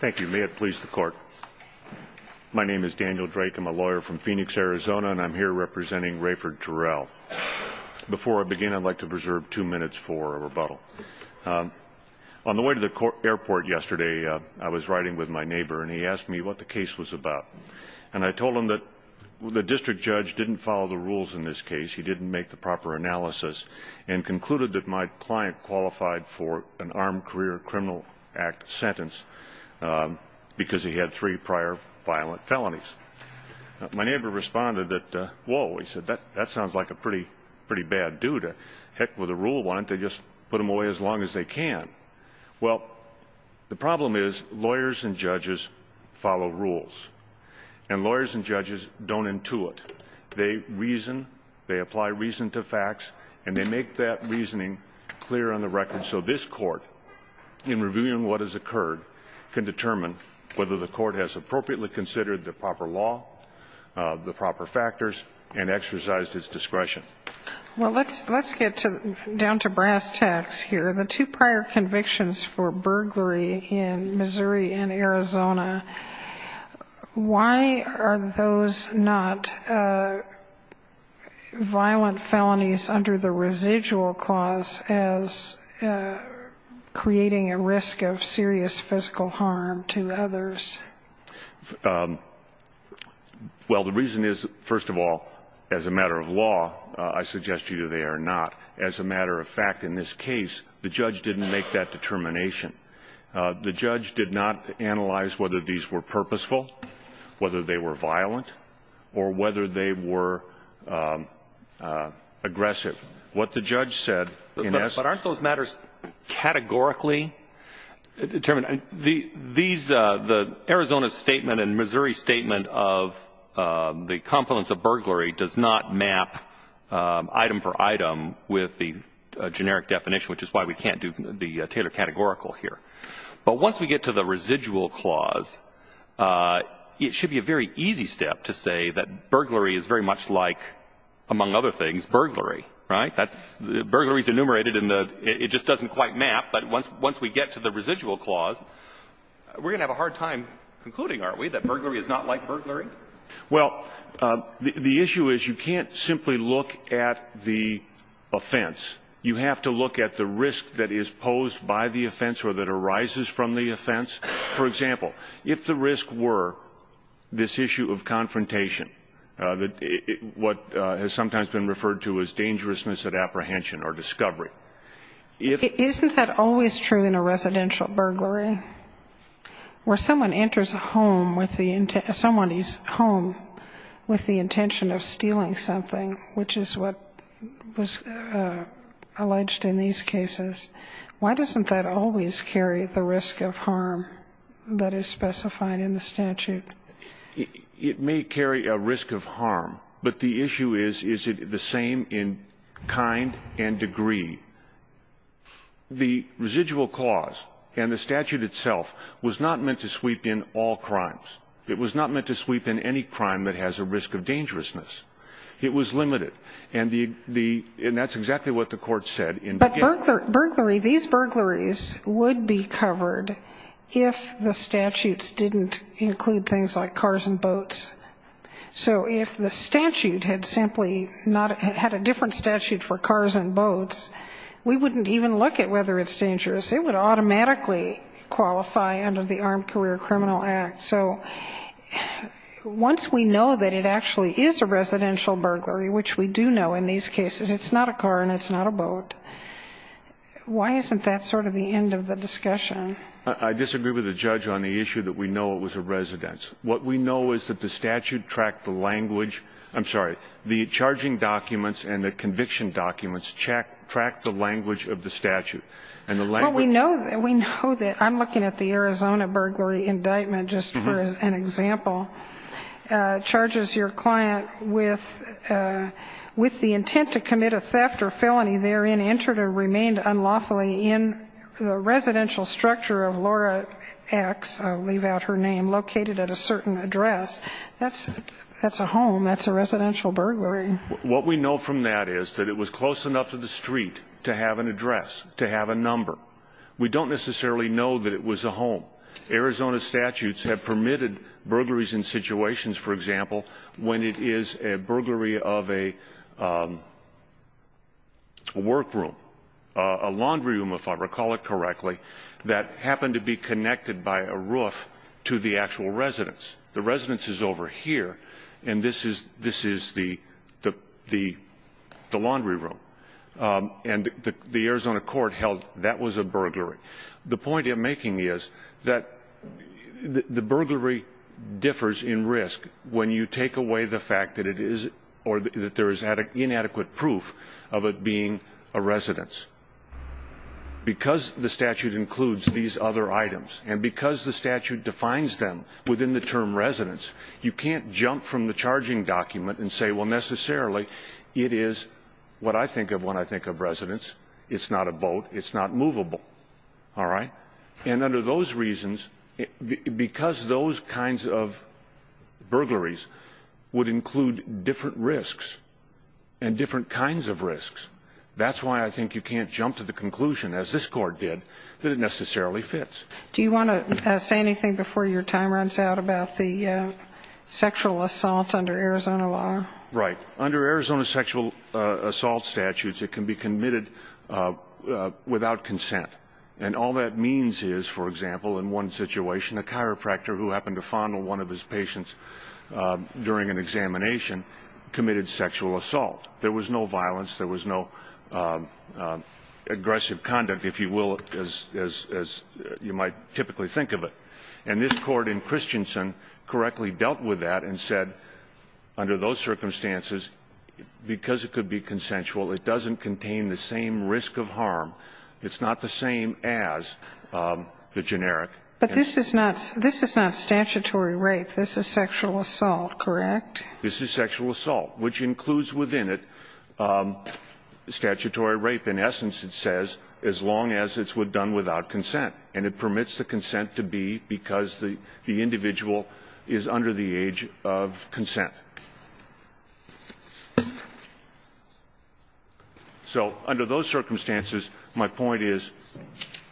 Thank you. May it please the court. My name is Daniel Drake. I'm a lawyer from Phoenix, Arizona, and I'm here representing Rayford Terrell. Before I begin, I'd like to preserve two minutes for a rebuttal. On the way to the airport yesterday, I was riding with my neighbor, and he asked me what the case was about. And I told him that the district judge didn't follow the rules in this case. He didn't make the proper analysis and concluded that my client qualified for an Armed Career Criminal Act sentence because he had three prior violent felonies. My neighbor responded that, whoa, he said, that sounds like a pretty bad dude. Heck, with a rule on it, they just put him away as long as they can. Well, the problem is, lawyers and judges follow rules. And lawyers and judges don't intuit. They reason, they apply reason to facts, and they make that reasoning clear on the record. So this Court, in reviewing what has occurred, can determine whether the Court has appropriately considered the proper law, the proper factors, and exercised its discretion. Well, let's get down to brass tacks here. The two prior convictions for burglary in Missouri and Arizona, why are those not violent felonies under the residual clause as creating a risk of serious physical harm to others? Well, the reason is, first of all, as a matter of law, I suggest to you they are not. As a matter of fact, in this case, the judge didn't make that determination. The judge did not analyze whether these were purposeful, whether they were violent, or whether they were aggressive. But aren't those matters categorically determined? The Arizona statement and Missouri statement of the confluence of burglary does not map item for item with the generic definition, which is why we can't do the Taylor categorical here. But once we get to the residual clause, it should be a very easy step to say that burglary is very much like, among other things, burglary, right? Burglary is enumerated in the — it just doesn't quite map. But once we get to the residual clause, we're going to have a hard time concluding, aren't we, that burglary is not like burglary? Well, the issue is you can't simply look at the offense. You have to look at the risk that is posed by the offense or that arises from the offense. For example, if the risk were this issue of confrontation, what has sometimes been referred to as dangerousness at apprehension or discovery, if — Isn't that always true in a residential burglary, where someone enters a home with the — alleged in these cases, why doesn't that always carry the risk of harm that is specified in the statute? It may carry a risk of harm, but the issue is, is it the same in kind and degree? The residual clause and the statute itself was not meant to sweep in all crimes. It was not meant to sweep in any crime that has a risk of dangerousness. It was limited. And the — and that's exactly what the Court said in — But burglary — these burglaries would be covered if the statutes didn't include things like cars and boats. So if the statute had simply not — had a different statute for cars and boats, we wouldn't even look at whether it's dangerous. It would automatically qualify under the Armed Career Criminal Act. So once we know that it actually is a residential burglary, which we do know in these cases, it's not a car and it's not a boat, why isn't that sort of the end of the discussion? I disagree with the judge on the issue that we know it was a residence. What we know is that the statute tracked the language — I'm sorry, the charging documents and the conviction documents track the language of the statute. And the language — Well, we know — we know that — I'm looking at the Arizona burglary indictment just for an example. Charges your client with the intent to commit a theft or felony therein entered or remained unlawfully in the residential structure of Laura X — I'll leave out her name — located at a certain address. That's a home. That's a residential burglary. What we know from that is that it was close enough to the street to have an address, to have a number. We don't necessarily know that it was a home. Arizona statutes have permitted burglaries in situations, for example, when it is a burglary of a workroom, a laundry room, if I recall it correctly, that happened to be connected by a roof to the actual residence. The residence is over here, and this is the laundry room. And the Arizona court held that was a burglary. The point I'm making is that the burglary differs in risk when you take away the fact that it is — or that there is inadequate proof of it being a residence. Because the statute includes these other items, and because the statute defines them within the term residence, you can't jump from the charging document and say, well, necessarily it is what I think of when I think of residence. It's not a boat. It's not movable. All right? And under those reasons, because those kinds of burglaries would include different risks and different kinds of risks, that's why I think you can't jump to the conclusion, as this court did, that it necessarily fits. Do you want to say anything before your time runs out about the sexual assault under Arizona law? Right. Under Arizona sexual assault statutes, it can be committed without consent. And all that means is, for example, in one situation, a chiropractor who happened to fondle one of his patients during an examination committed sexual assault. There was no violence. There was no aggressive conduct, if you will, as you might typically think of it. And this Court in Christensen correctly dealt with that and said, under those circumstances, because it could be consensual, it doesn't contain the same risk of harm. It's not the same as the generic. But this is not — this is not statutory rape. This is sexual assault, correct? This is sexual assault, which includes within it statutory rape. In essence, it says, as long as it's done without consent. And it permits the consent to be because the individual is under the age of consent. So under those circumstances, my point is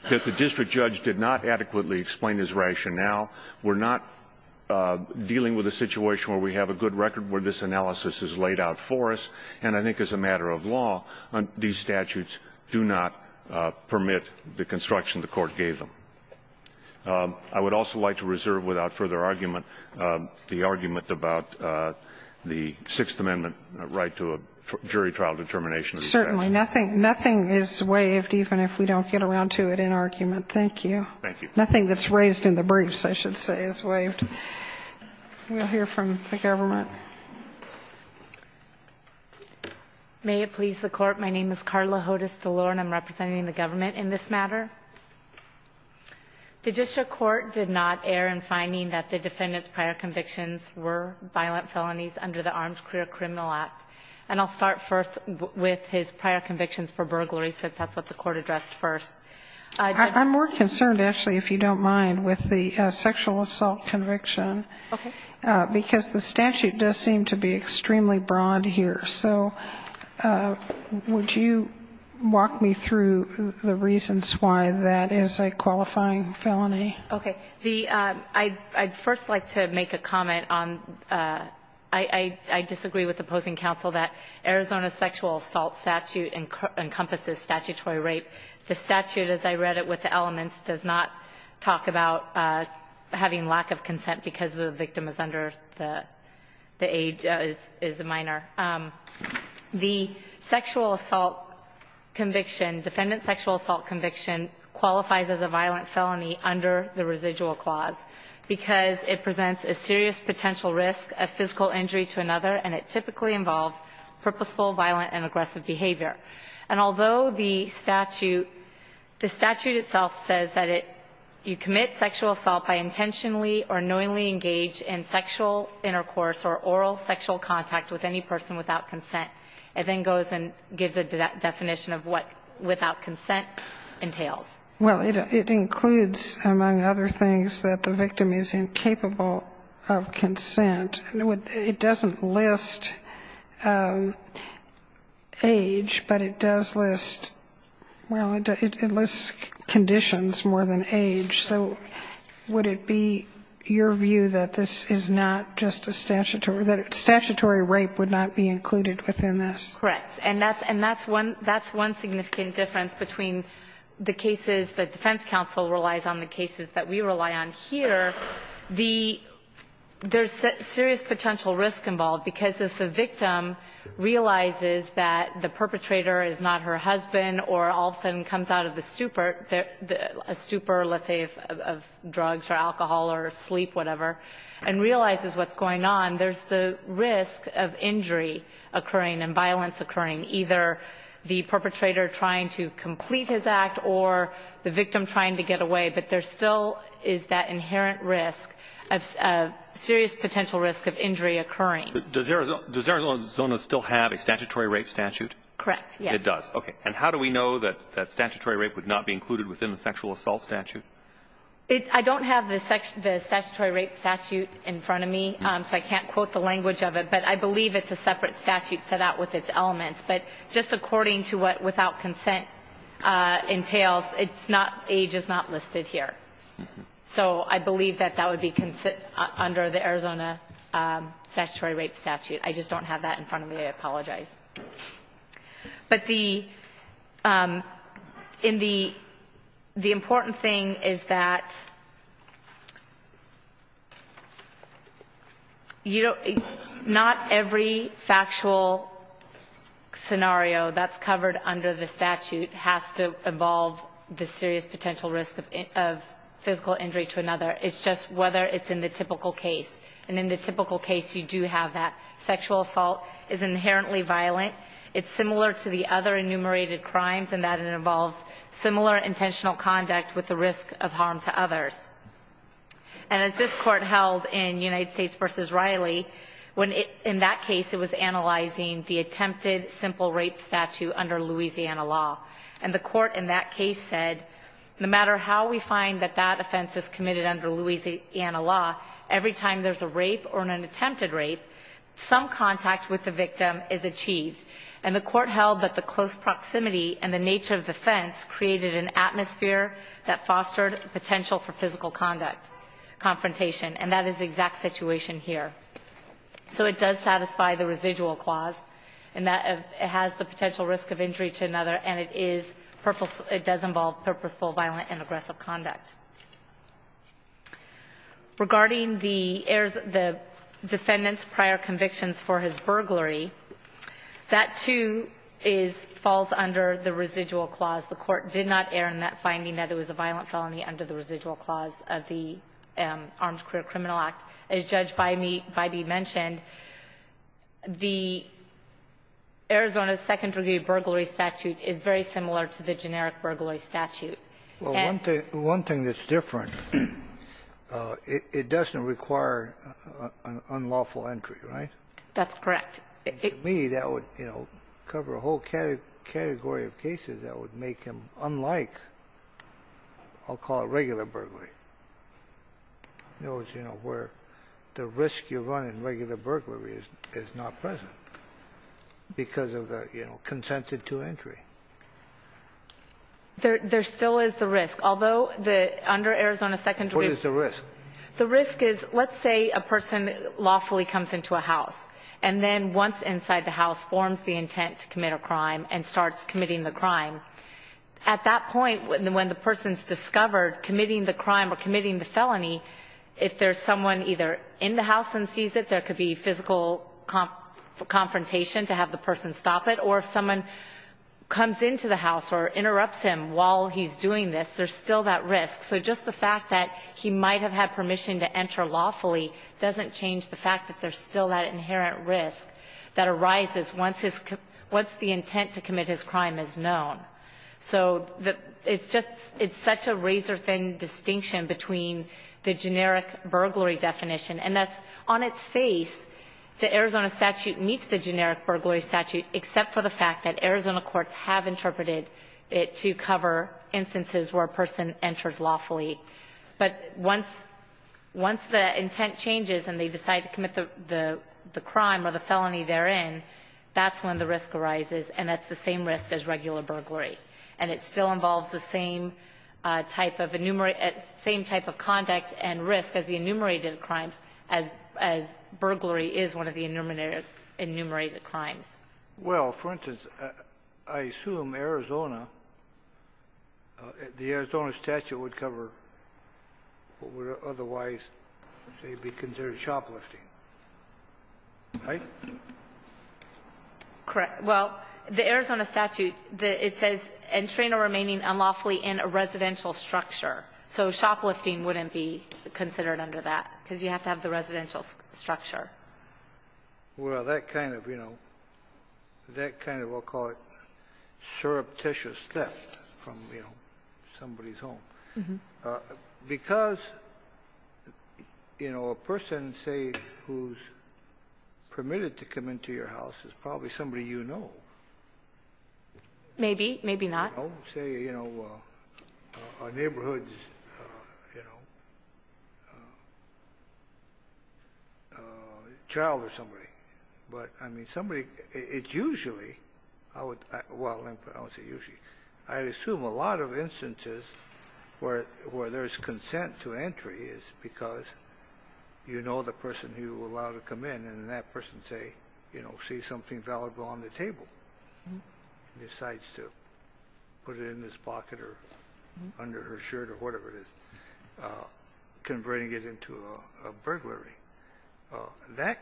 that the district judge did not adequately explain his rationale. We're not dealing with a situation where we have a good record where this analysis is laid out for us. And I think as a matter of law, these statutes do not permit the construction the Court gave them. I would also like to reserve, without further argument, the argument about the Sixth Amendment right to a jury trial determination. Certainly. Nothing is waived even if we don't get around to it in argument. Thank you. Thank you. Nothing that's raised in the briefs, I should say, is waived. We'll hear from the government. May it please the Court. My name is Carla Hodes DeLore, and I'm representing the government in this matter. The district court did not err in finding that the defendant's prior convictions were violent felonies under the Armed Career Criminal Act. And I'll start with his prior convictions for burglary, since that's what the Court addressed first. I'm more concerned, actually, if you don't mind, with the sexual assault conviction. Okay. Because the statute does seem to be extremely broad here. So would you walk me through the reasons why that is a qualifying felony? Okay. The – I'd first like to make a comment on – I disagree with opposing counsel that Arizona's sexual assault statute encompasses statutory rape. The statute, as I read it with the elements, does not talk about having lack of consent because the victim is under the age – is a minor. The sexual assault conviction, defendant's sexual assault conviction, qualifies as a violent felony under the residual clause because it presents a serious potential risk of physical injury to another, and it typically involves purposeful, violent, and aggressive behavior. And although the statute – the statute itself says that it – you commit sexual assault by intentionally or knowingly engaged in sexual intercourse or oral sexual contact with any person without consent, it then goes and gives a definition of what without consent entails. Well, it includes, among other things, that the victim is incapable of consent. And it doesn't list age, but it does list – well, it lists conditions more than age. So would it be your view that this is not just a statutory – that statutory rape would not be included within this? Correct. And that's one significant difference between the cases that defense counsel relies on, the cases that we rely on here. The – there's serious potential risk involved, because if the victim realizes that the perpetrator is not her husband or all of a sudden comes out of the stupor – a stupor, let's say, of drugs or alcohol or sleep, whatever, and realizes what's going on, there's the risk of injury occurring and violence occurring, either the perpetrator trying to complete his act or the victim trying to get away. But there still is that inherent risk of – serious potential risk of injury occurring. Does Arizona still have a statutory rape statute? Correct, yes. It does. Okay. And how do we know that statutory rape would not be included within the sexual assault statute? I don't have the statutory rape statute in front of me, so I can't quote the language of it. But I believe it's a separate statute set out with its elements. But just according to what without consent entails, it's not – age is not listed here. So I believe that that would be under the Arizona statutory rape statute. I just don't have that in front of me. I apologize. But the – in the – the important thing is that you don't – not every factual scenario that's covered under the statute has to involve the serious potential risk of physical injury to another. It's just whether it's in the typical case. And in the typical case, you do have that. Sexual assault is inherently violent. It's similar to the other enumerated crimes in that it involves similar intentional conduct with the risk of harm to others. And as this Court held in United States v. Riley, in that case it was analyzing the attempted simple rape statute under Louisiana law. And the Court in that case said, no matter how we find that that offense is committed under Louisiana law, every time there's a rape or an attempted rape, some contact with the victim is achieved. And the Court held that the close proximity and the nature of the offense created an atmosphere that fostered potential for physical conduct – confrontation. And that is the exact situation here. So it does satisfy the residual clause in that it has the potential risk of injury to another and it is – it does involve purposeful, violent, and aggressive conduct. Regarding the defendant's prior convictions for his burglary, that, too, falls under the residual clause. The Court did not err in that finding that it was a violent felony under the residual clause of the Armed Career Criminal Act. As Judge Bybee mentioned, the Arizona Second Degree Burglary Statute is very similar to the generic burglary statute. Well, one thing – one thing that's different, it doesn't require an unlawful entry, right? That's correct. To me, that would, you know, cover a whole category of cases that would make him unlike, I'll call it, regular burglary. In other words, you know, where the risk you run in regular burglary is not present because of the, you know, consensus to entry. There still is the risk. Although the – under Arizona Second Degree – What is the risk? The risk is, let's say a person lawfully comes into a house and then once inside the house forms the intent to commit a crime and starts committing the crime. At that point, when the person's discovered committing the crime or committing the felony, if there's someone either in the house and sees it, there could be physical confrontation to have the person stop it or if someone comes into the house or interrupts him while he's doing this, there's still that risk. So just the fact that he might have had permission to enter lawfully doesn't change the fact that there's still that inherent risk that arises once the intent to commit his crime is known. So it's just – it's such a razor-thin distinction between the generic burglary definition, and that's on its face the Arizona statute meets the generic burglary statute except for the fact that Arizona courts have interpreted it to cover instances where a person enters lawfully. But once the intent changes and they decide to commit the crime or the felony they're in, that's when the risk arises, and that's the same risk as regular burglary. And it still involves the same type of conduct and risk as the enumerated crimes as burglary is one of the enumerated crimes. Well, for instance, I assume Arizona, the Arizona statute would cover what would otherwise, say, be considered shoplifting. Right? Correct. Well, the Arizona statute, it says entrain a remaining unlawfully in a residential structure. So shoplifting wouldn't be considered under that, because you have to have the residential structure. Well, that kind of, you know, that kind of, I'll call it, surreptitious theft from, you know, somebody's home. Because, you know, a person, say, who's permitted to come into your house is probably somebody you know. Maybe. Maybe not. Say, you know, a neighborhood's, you know, child of somebody. But, I mean, somebody, it's usually, I would, well, I don't say usually. I assume a lot of instances where there's consent to entry is because you know the person you allow to come in, and then that person say, you know, sees something and decides to put it in his pocket or under her shirt or whatever it is, converting it into a burglary. That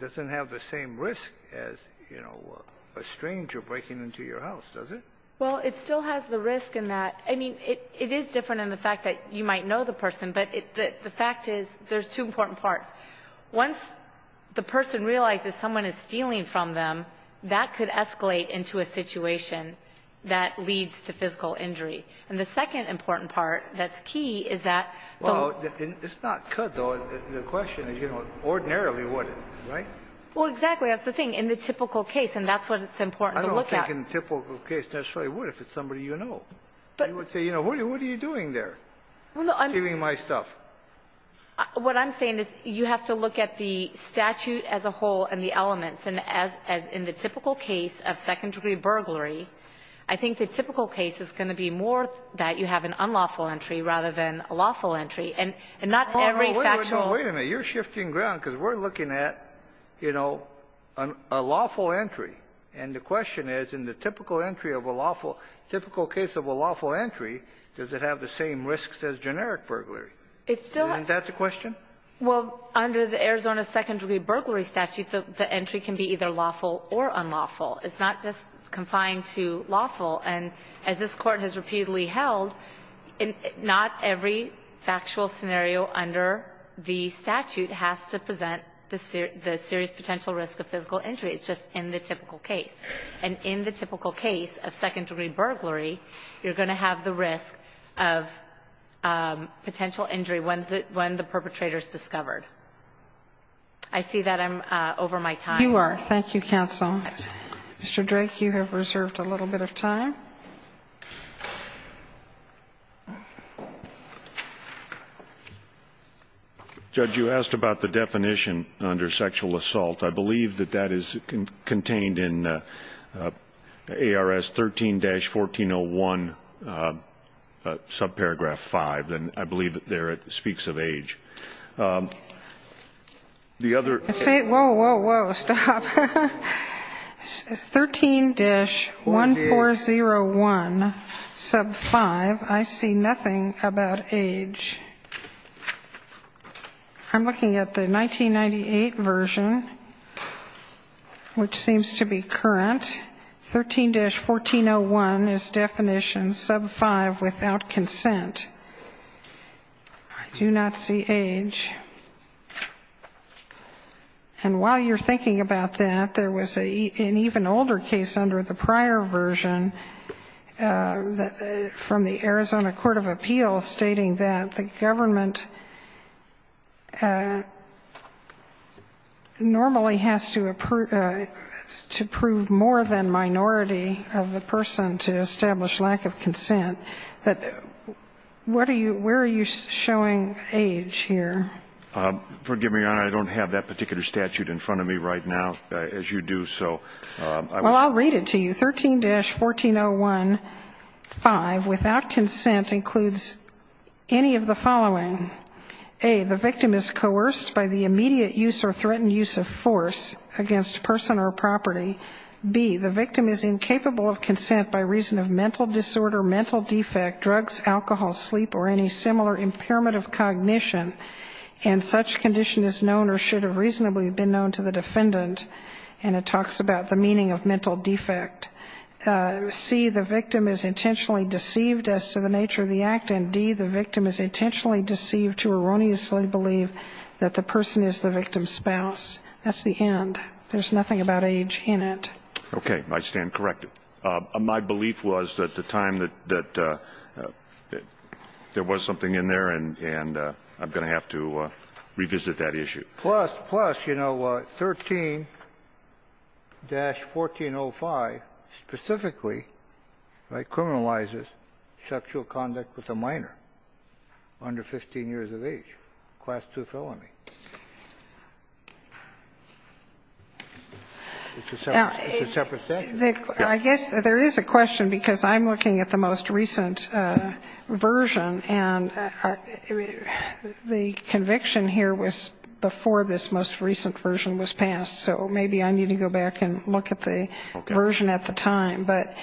doesn't have the same risk as, you know, a stranger breaking into your house, does it? Well, it still has the risk in that. I mean, it is different in the fact that you might know the person. But the fact is there's two important parts. Once the person realizes someone is stealing from them, that could escalate into a situation that leads to physical injury. And the second important part that's key is that the ---- Well, it's not could, though. The question is, you know, ordinarily would it, right? Well, exactly. That's the thing. In the typical case, and that's what it's important to look at. I don't think in the typical case necessarily would if it's somebody you know. But ---- You would say, you know, what are you doing there, stealing my stuff? What I'm saying is you have to look at the statute as a whole and the elements. And as in the typical case of second-degree burglary, I think the typical case is going to be more that you have an unlawful entry rather than a lawful entry. And not every factual ---- No, wait a minute. You're shifting ground, because we're looking at, you know, a lawful entry. And the question is, in the typical entry of a lawful ---- typical case of a lawful entry, does it have the same risks as generic burglary? It still has ---- Isn't that the question? Well, under the Arizona second-degree burglary statute, the entry can be either lawful or unlawful. It's not just confined to lawful. And as this Court has repeatedly held, not every factual scenario under the statute has to present the serious potential risk of physical entry. It's just in the typical case. And in the typical case of second-degree burglary, you're going to have the risk of potential injury when the perpetrator is discovered. I see that I'm over my time. You are. Thank you, counsel. Mr. Drake, you have reserved a little bit of time. Judge, you asked about the definition under sexual assault. I believe that that is contained in ARS 13-1401, subparagraph 5. And I believe there it speaks of age. The other ---- Whoa, whoa, whoa. Stop. 13-1401, sub 5, I see nothing about age. I'm looking at the 1998 version, which seems to be current. 13-1401 is definition, sub 5, without consent. I do not see age. And while you're thinking about that, there was an even older case under the prior version from the Arizona Court of Appeals stating that the government normally has to prove more than minority of the person to establish lack of consent. What are you ---- where are you showing age here? Forgive me, Your Honor, I don't have that particular statute in front of me right now, as you do. Well, I'll read it to you. 13-1401, 5, without consent, includes any of the following. A, the victim is coerced by the immediate use or threatened use of force against person or property. B, the victim is incapable of consent by reason of mental disorder, mental defect, drugs, alcohol, sleep, or any similar impairment of cognition. And such condition is known or should have reasonably been known to the defendant and it talks about the meaning of mental defect. C, the victim is intentionally deceived as to the nature of the act. And D, the victim is intentionally deceived to erroneously believe that the person is the victim's spouse. That's the end. There's nothing about age in it. Okay. I stand corrected. My belief was at the time that there was something in there and I'm going to have to revisit that issue. Plus, plus, you know, 13-1405 specifically, right, criminalizes sexual conduct with a minor under 15 years of age, Class II felony. It's a separate statute. I guess there is a question because I'm looking at the most recent version and the conviction here was before this most recent version was passed. So maybe I need to go back and look at the version at the time. But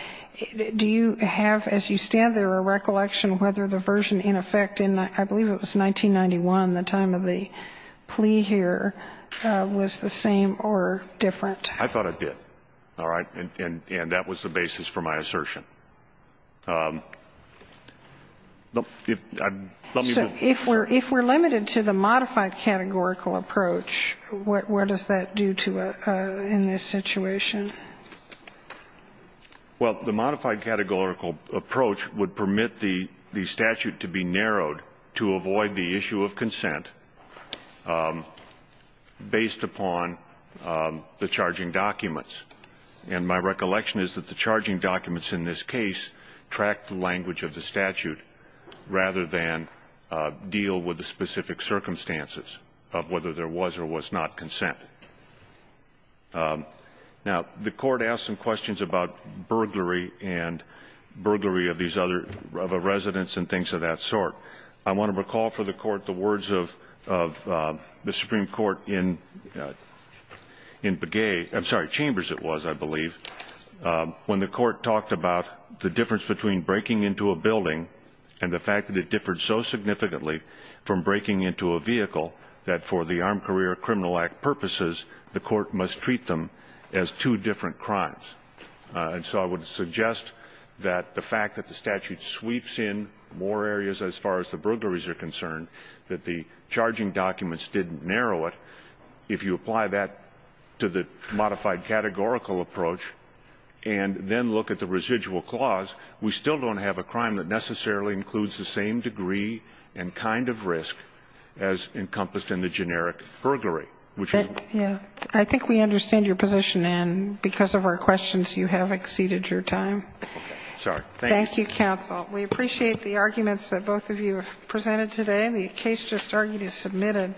do you have, as you stand there, a recollection whether the version in effect in, I believe it was 1991, the time of the plea here, was the same or different? I thought it did. All right. And that was the basis for my assertion. So if we're limited to the modified categorical approach, what does that do to us in this situation? Well, the modified categorical approach would permit the statute to be narrowed to avoid the issue of consent based upon the charging documents. And my recollection is that the charging documents in this case track the language of the statute rather than deal with the specific circumstances of whether there was or was not consent. Now, the Court asked some questions about burglary and burglary of these other residents and things of that sort. I want to recall for the Court the words of the Supreme Court in Begay, I'm sorry, in the chambers it was, I believe, when the Court talked about the difference between breaking into a building and the fact that it differed so significantly from breaking into a vehicle that for the Armed Career Criminal Act purposes, the Court must treat them as two different crimes. And so I would suggest that the fact that the statute sweeps in more areas as far as the burglaries are concerned, that the charging documents didn't narrow it, if you apply that to the modified categorical approach and then look at the residual clause, we still don't have a crime that necessarily includes the same degree and kind of risk as encompassed in the generic burglary. I think we understand your position, and because of our questions, you have exceeded your time. Thank you, counsel. We appreciate the arguments that both of you have presented today. The case just argued is submitted.